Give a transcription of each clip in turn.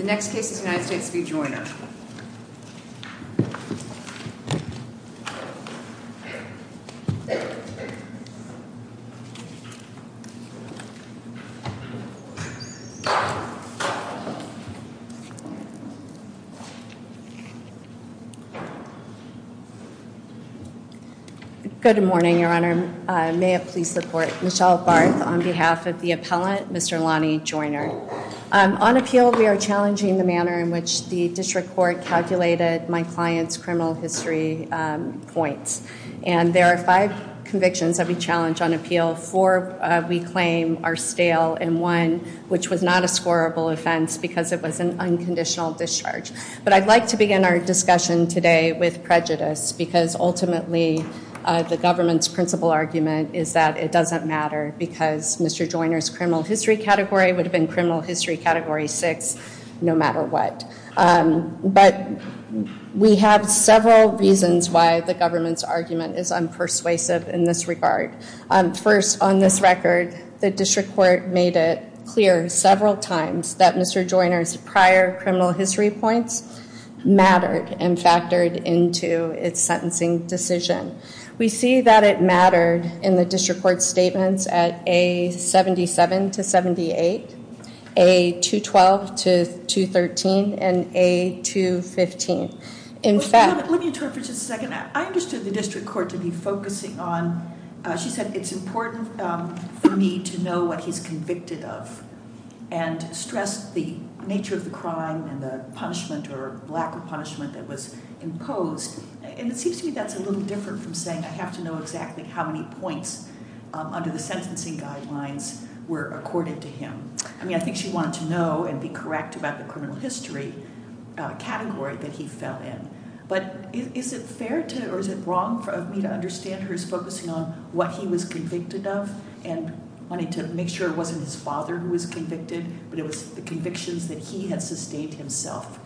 The next case is United States v. Joyner. Good morning, Your Honor. May I please support Michelle Barth on behalf of the appellant, Mr. Lonnie Joyner. On appeal, we are challenging the manner in which the district court calculated my client's criminal history points. And there are five convictions that we challenge on appeal. Four we claim are stale and one which was not a scorable offense because it was an unconditional discharge. But I'd like to begin our discussion today with prejudice because ultimately the government's principal argument is that it doesn't matter because Mr. Joyner's criminal history category would have been criminal history category six no matter what. But we have several reasons why the government's argument is unpersuasive in this regard. First, on this record, the district court made it clear several times that Mr. Joyner's prior criminal history points mattered and factored into its sentencing decision. We see that it mattered in the district court's statements at A77 to 78, A212 to 213, and A215. In fact- Let me interpret for just a second. I understood the district court to be focusing on, she said, it's important for me to know what he's convicted of and stressed the nature of the crime and the punishment or lack of punishment that was imposed. And it seems to me that's a little different from saying I have to know exactly how many points under the sentencing guidelines were accorded to him. I mean, I think she wanted to know and be correct about the criminal history category that he fell in. But is it fair to or is it wrong for me to understand her as focusing on what he was convicted of and wanting to make sure it wasn't his father who was convicted but it was the convictions that he had sustained himself?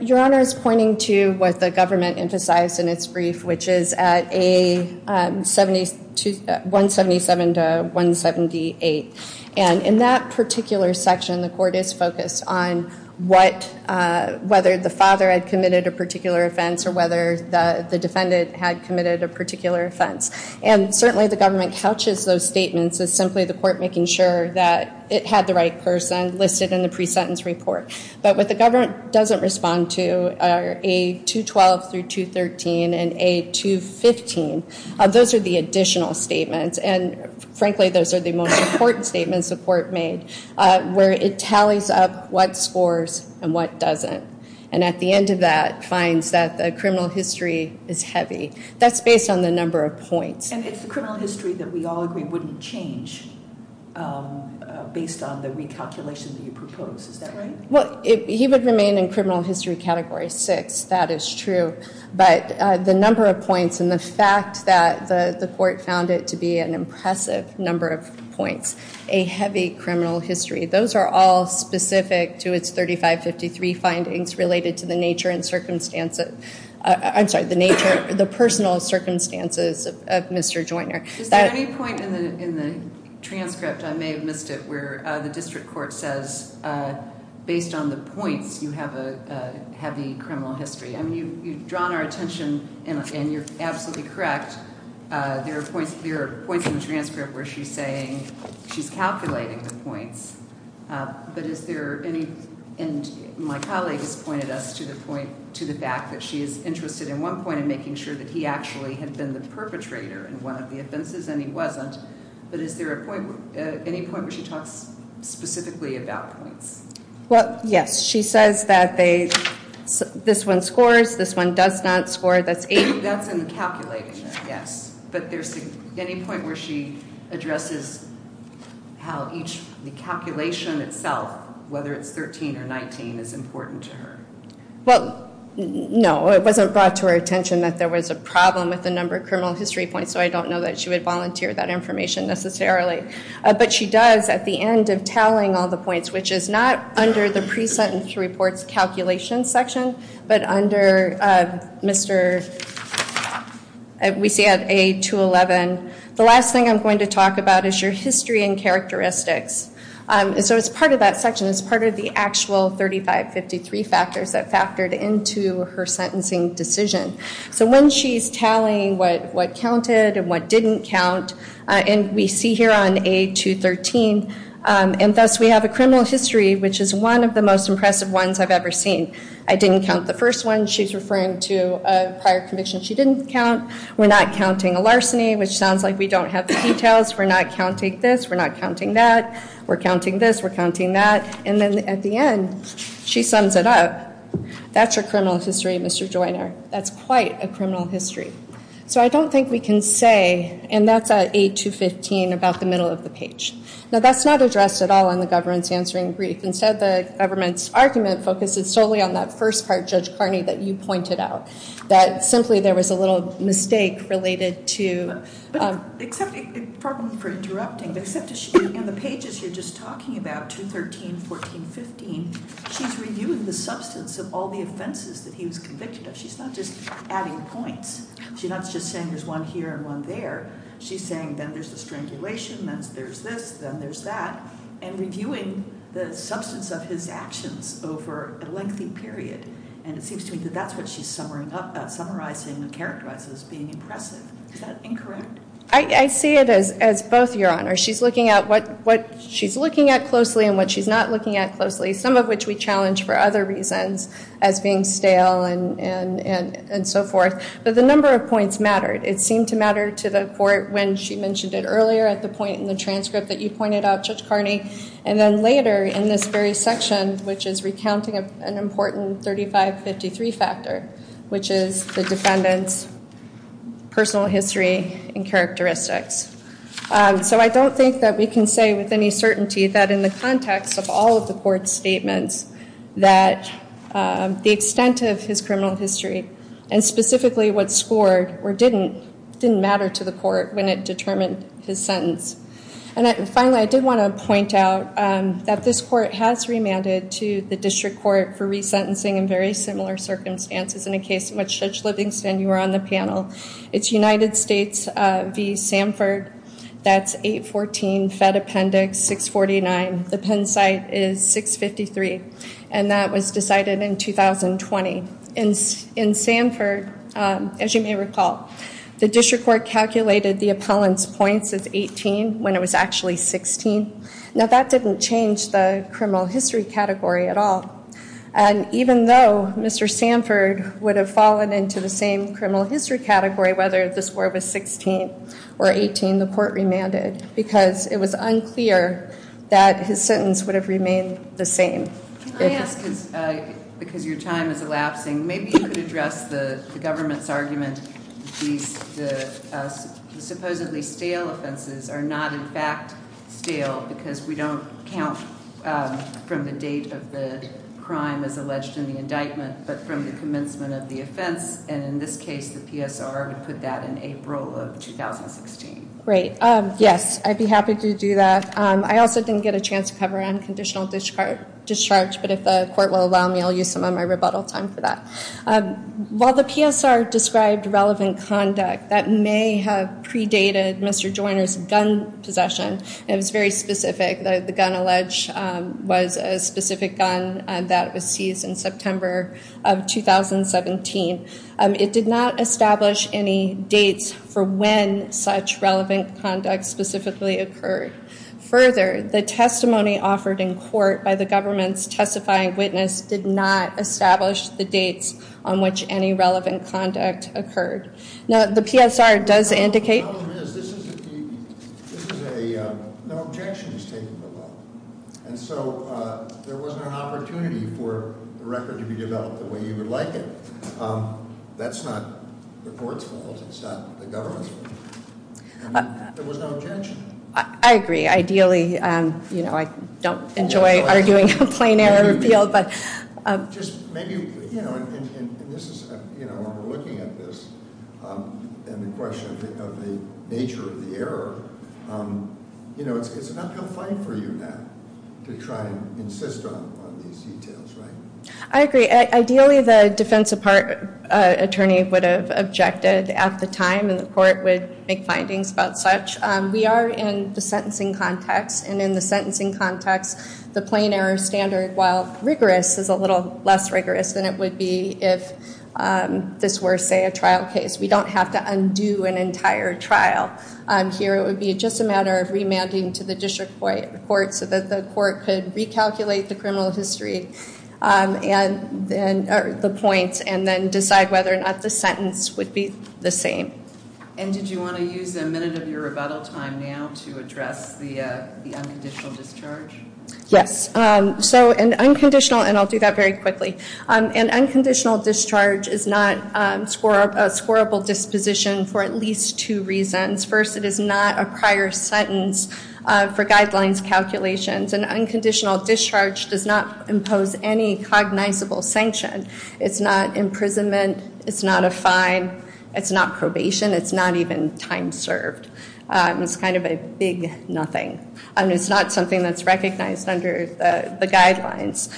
Your Honor is pointing to what the government emphasized in its brief, which is at A177 to 178. And in that particular section, the court is focused on whether the father had committed a particular offense or whether the defendant had committed a particular offense. And certainly the government couches those statements as simply the court making sure that it had the right person listed in the pre-sentence report. But what the government doesn't respond to are A212 through 213 and A215. Those are the additional statements. And frankly, those are the most important statements the court made where it tallies up what scores and what doesn't. And at the end of that finds that the criminal history is heavy. That's based on the number of points. And it's the criminal history that we all agree wouldn't change based on the recalculation that you propose. Is that right? Well, he would remain in criminal history category six. That is true. But the number of points and the fact that the court found it to be an impressive number of points, a heavy criminal history, those are all specific to its 3553 findings related to the nature and circumstances of Mr. Joyner. Is there any point in the transcript, I may have missed it, where the district court says based on the points you have a heavy criminal history? I mean, you've drawn our attention and you're absolutely correct. There are points in the transcript where she's saying she's calculating the points. But is there any, and my colleague has pointed us to the point, to the fact that she is interested in one point in making sure that he actually had been the perpetrator in one of the offenses and he wasn't. But is there any point where she talks specifically about points? Well, yes. She says that this one scores, this one does not score, that's eight. That's in the calculating, yes. But there's any point where she addresses how each, the calculation itself, whether it's 13 or 19, is important to her? Well, no. It wasn't brought to our attention that there was a problem with the number of criminal history points, so I don't know that she would volunteer that information necessarily. But she does at the end of telling all the points, which is not under the pre-sentence reports calculation section, but under Mr., we see at A211. The last thing I'm going to talk about is your history and characteristics. So it's part of that section, it's part of the actual 3553 factors that factored into her sentencing decision. So when she's tallying what counted and what didn't count, and we see here on A213, and thus we have a criminal history which is one of the most impressive ones I've ever seen. I didn't count the first one. She's referring to a prior conviction she didn't count. We're not counting a larceny, which sounds like we don't have the details. We're not counting this. We're not counting that. We're counting this. We're counting that. And then at the end, she sums it up. That's your criminal history, Mr. Joyner. That's quite a criminal history. So I don't think we can say, and that's at A215, about the middle of the page. Now, that's not addressed at all on the governance answering brief. Instead, the government's argument focuses solely on that first part, Judge Carney, that you pointed out, that simply there was a little mistake related to the problem for interrupting. In the pages you're just talking about, 213, 14, 15, she's reviewing the substance of all the offenses that he was convicted of. She's not just adding points. She's not just saying there's one here and one there. She's saying then there's the strangulation, then there's this, then there's that, and reviewing the substance of his actions over a lengthy period. And it seems to me that that's what she's summarizing and characterizing as being impressive. Is that incorrect? I see it as both, Your Honor. She's looking at what she's looking at closely and what she's not looking at closely, some of which we challenge for other reasons as being stale and so forth. But the number of points mattered. It seemed to matter to the court when she mentioned it earlier at the point in the transcript that you pointed out, Judge Carney, and then later in this very section, which is recounting an important 3553 factor, which is the defendant's personal history and characteristics. So I don't think that we can say with any certainty that in the context of all of the court's statements that the extent of his criminal history, and specifically what scored or didn't, didn't matter to the court when it determined his sentence. And finally, I did want to point out that this court has remanded to the district court for resentencing in very similar circumstances in a case in which, Judge Livingston, you were on the panel. It's United States v. Sanford. That's 814 Fed Appendix 649. The Penn site is 653, and that was decided in 2020. In Sanford, as you may recall, the district court calculated the appellant's points as 18 when it was actually 16. Now that didn't change the criminal history category at all. And even though Mr. Sanford would have fallen into the same criminal history category, whether this were with 16 or 18, the court remanded, because it was unclear that his sentence would have remained the same. Can I ask, because your time is elapsing, maybe you could address the government's argument that supposedly stale offenses are not in fact stale because we don't count from the date of the crime as alleged in the indictment, but from the commencement of the offense, and in this case the PSR would put that in April of 2016. Right. Yes, I'd be happy to do that. I also didn't get a chance to cover unconditional discharge, but if the court will allow me, I'll use some of my rebuttal time for that. While the PSR described relevant conduct that may have predated Mr. Joyner's gun possession, it was very specific. The gun alleged was a specific gun that was seized in September of 2017. It did not establish any dates for when such relevant conduct specifically occurred. Further, the testimony offered in court by the government's testifying witness did not establish the dates on which any relevant conduct occurred. Now, the PSR does indicate- The problem is, this is a, no objection is taken. And so there wasn't an opportunity for the record to be developed the way you would like it. That's not the court's fault. It's not the government's fault. There was no objection. I agree. Ideally, you know, I don't enjoy arguing a plain error appeal, but- Just maybe, you know, and this is, you know, when we're looking at this, and the question of the nature of the error, you know, it's an uphill fight for you to try and insist on these details, right? I agree. Ideally, the defense attorney would have objected at the time, and the court would make findings about such. We are in the sentencing context, and in the sentencing context, the plain error standard, while rigorous, is a little less rigorous than it would be if this were, say, a trial case. We don't have to undo an entire trial. Here, it would be just a matter of remanding to the district court so that the court could recalculate the criminal history, the points, and then decide whether or not the sentence would be the same. And did you want to use a minute of your rebuttal time now to address the unconditional discharge? Yes. So an unconditional, and I'll do that very quickly, an unconditional discharge is not a squarable disposition for at least two reasons. First, it is not a prior sentence for guidelines calculations. An unconditional discharge does not impose any cognizable sanction. It's not imprisonment. It's not a fine. It's not probation. It's not even time served. It's kind of a big nothing. It's not something that's recognized under the guidelines.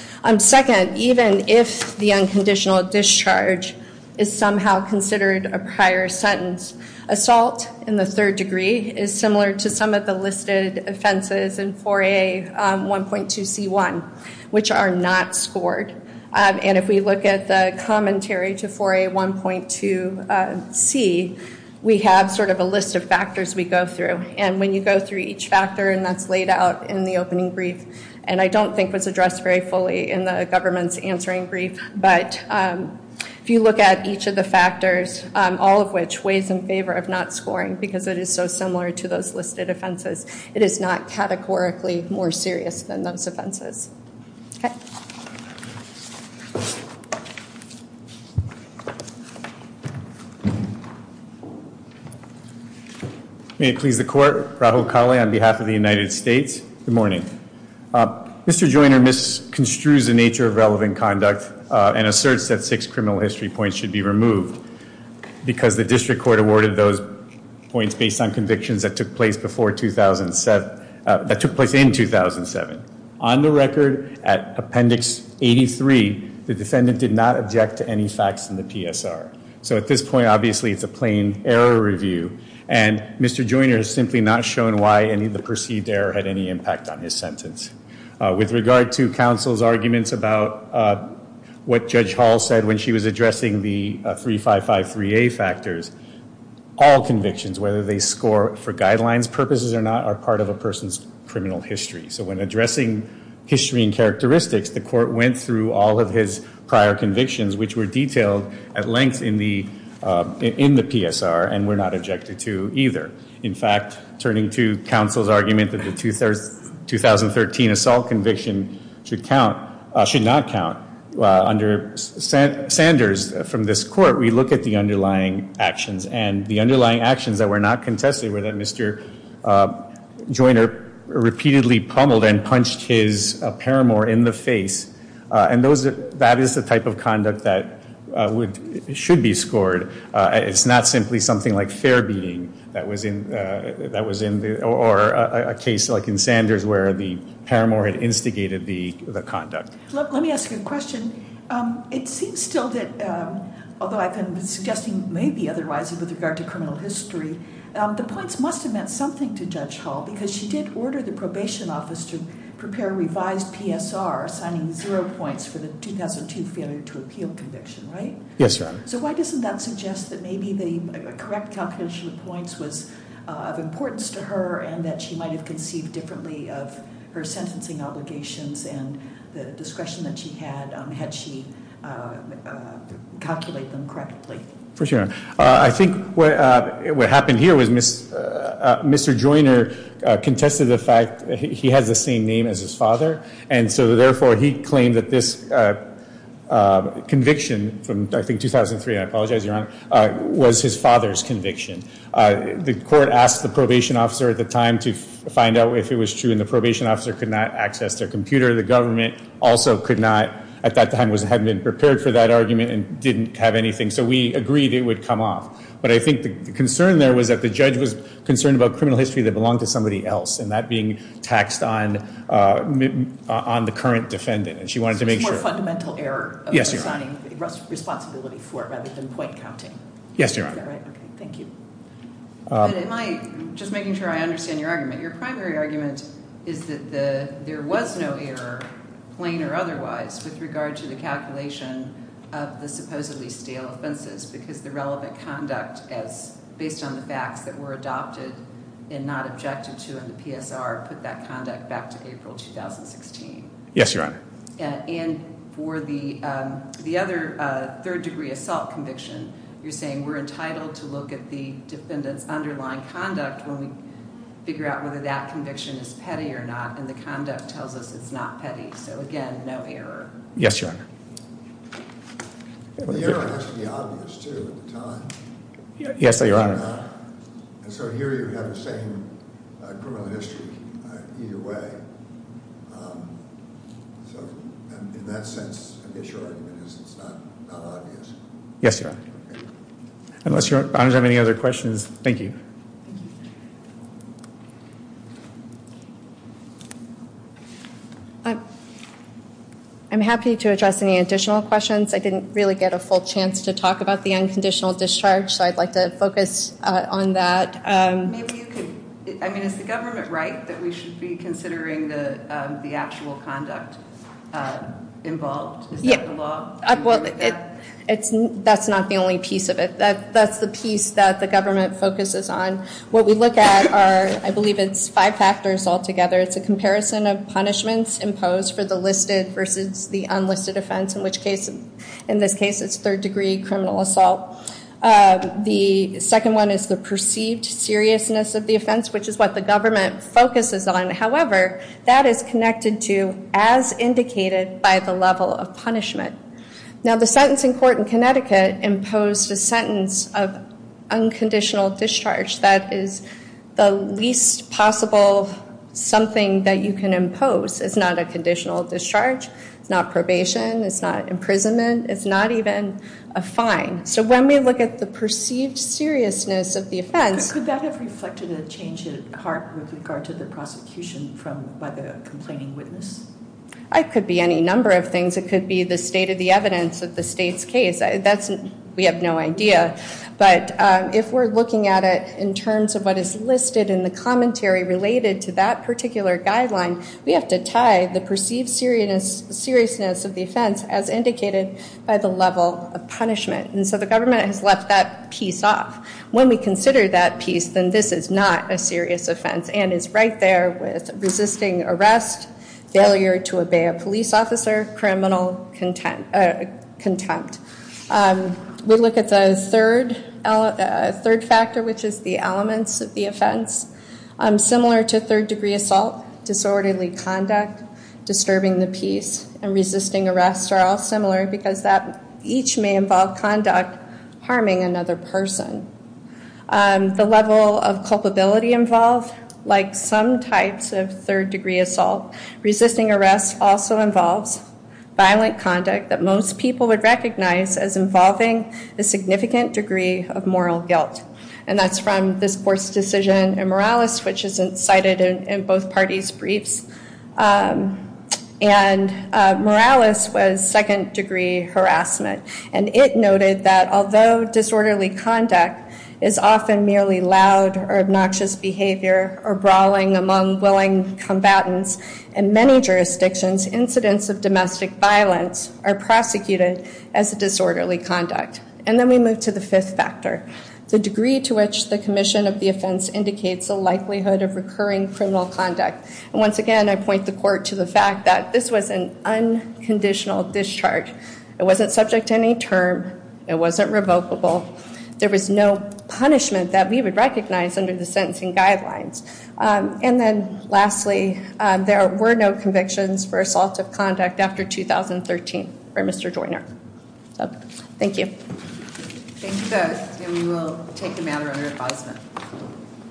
Second, even if the unconditional discharge is somehow considered a prior sentence, assault in the third degree is similar to some of the listed offenses in 4A1.2C1, which are not scored. And if we look at the commentary to 4A1.2C, we have sort of a list of factors we go through. And when you go through each factor, and that's laid out in the opening brief, and I don't think was addressed very fully in the government's answering brief, but if you look at each of the factors, all of which weighs in favor of not scoring because it is so similar to those listed offenses, it is not categorically more serious than those offenses. May it please the Court. Rahul Kaly on behalf of the United States. Good morning. Mr. Joyner misconstrues the nature of relevant conduct and asserts that six criminal history points should be removed because the district court awarded those points based on convictions that took place in 2007. On the record, at Appendix 83, the defendant did not object to any facts in the PSR. So at this point, obviously, it's a plain error review. And Mr. Joyner has simply not shown why any of the perceived error had any impact on his sentence. With regard to counsel's arguments about what Judge Hall said when she was addressing the 3553A factors, all convictions, whether they score for guidelines purposes or not, are part of a person's criminal history. So when addressing history and characteristics, the court went through all of his prior convictions, which were detailed at length in the PSR and were not objected to either. In fact, turning to counsel's argument that the 2013 assault conviction should not count, under Sanders from this court, we look at the underlying actions. And the underlying actions that were not contested were that Mr. Joyner repeatedly pummeled and punched his paramour in the face. And that is the type of conduct that should be scored. It's not simply something like fair being, or a case like in Sanders where the paramour had instigated the conduct. Let me ask you a question. It seems still that, although I've been suggesting maybe otherwise with regard to criminal history, the points must have meant something to Judge Hall, because she did order the probation office to prepare a revised PSR, assigning zero points for the 2002 failure to appeal conviction, right? Yes, Your Honor. So why doesn't that suggest that maybe the correct calculation of points was of importance to her, and that she might have conceived differently of her sentencing obligations and the discretion that she had, had she calculated them correctly? I think what happened here was Mr. Joyner contested the fact that he has the same name as his father, and so therefore he claimed that this conviction from, I think, 2003, and I apologize, Your Honor, was his father's conviction. The court asked the probation officer at the time to find out if it was true, and the probation officer could not access their computer. The government also could not, at that time, had not been prepared for that argument and didn't have anything. So we agreed it would come off. But I think the concern there was that the judge was concerned about criminal history that belonged to somebody else, and that being taxed on the current defendant, and she wanted to make sure. So it's more fundamental error of assigning responsibility for it rather than point counting. Yes, Your Honor. All right, okay, thank you. But am I just making sure I understand your argument? Your primary argument is that there was no error, plain or otherwise, with regard to the calculation of the supposedly stale offenses because the relevant conduct, as based on the facts that were adopted and not objected to in the PSR, put that conduct back to April 2016. Yes, Your Honor. And for the other third-degree assault conviction, you're saying we're entitled to look at the defendant's underlying conduct when we figure out whether that conviction is petty or not, and the conduct tells us it's not petty. So, again, no error. Yes, Your Honor. The error has to be obvious, too, at the time. Yes, Your Honor. And so here you have the same criminal history either way. So in that sense, I guess your argument is it's not obvious. Yes, Your Honor. Unless you have any other questions. Thank you. I'm happy to address any additional questions. I didn't really get a full chance to talk about the unconditional discharge, so I'd like to focus on that. Maybe you could, I mean, is the government right that we should be considering the actual conduct involved? Is that the law? Well, that's not the only piece of it. That's the piece that the government focuses on. What we look at are, I believe it's five factors altogether. It's a comparison of punishments imposed for the listed versus the unlisted offense, in which case, in this case, it's third-degree criminal assault. The second one is the perceived seriousness of the offense, which is what the government focuses on. However, that is connected to as indicated by the level of punishment. Now, the sentencing court in Connecticut imposed a sentence of unconditional discharge. That is the least possible something that you can impose. It's not a conditional discharge. It's not probation. It's not imprisonment. It's not even a fine. So when we look at the perceived seriousness of the offense. Could that have reflected a change at heart with regard to the prosecution by the complaining witness? It could be any number of things. It could be the state of the evidence of the state's case. We have no idea. But if we're looking at it in terms of what is listed in the commentary related to that particular guideline, we have to tie the perceived seriousness of the offense as indicated by the level of punishment. And so the government has left that piece off. When we consider that piece, then this is not a serious offense and is right there with resisting arrest, failure to obey a police officer, criminal contempt. We look at the third factor, which is the elements of the offense. Similar to third degree assault, disorderly conduct, disturbing the peace, and resisting arrest are all similar because that each may involve conduct harming another person. The level of culpability involved, like some types of third degree assault, resisting arrest also involves violent conduct that most people would recognize as involving a significant degree of moral guilt. And that's from this court's decision in Morales, which is cited in both parties' briefs. And Morales was second degree harassment, and it noted that although disorderly conduct is often merely loud or obnoxious behavior or brawling among willing combatants in many jurisdictions, incidents of domestic violence are prosecuted as disorderly conduct. And then we move to the fifth factor, the degree to which the commission of the offense indicates a likelihood of recurring criminal conduct. And once again, I point the court to the fact that this was an unconditional discharge. It wasn't subject to any term. It wasn't revocable. There was no punishment that we would recognize under the sentencing guidelines. And then lastly, there were no convictions for assaultive conduct after 2013 for Mr. Joyner. Thank you. Thank you both, and we will take a matter under advisement.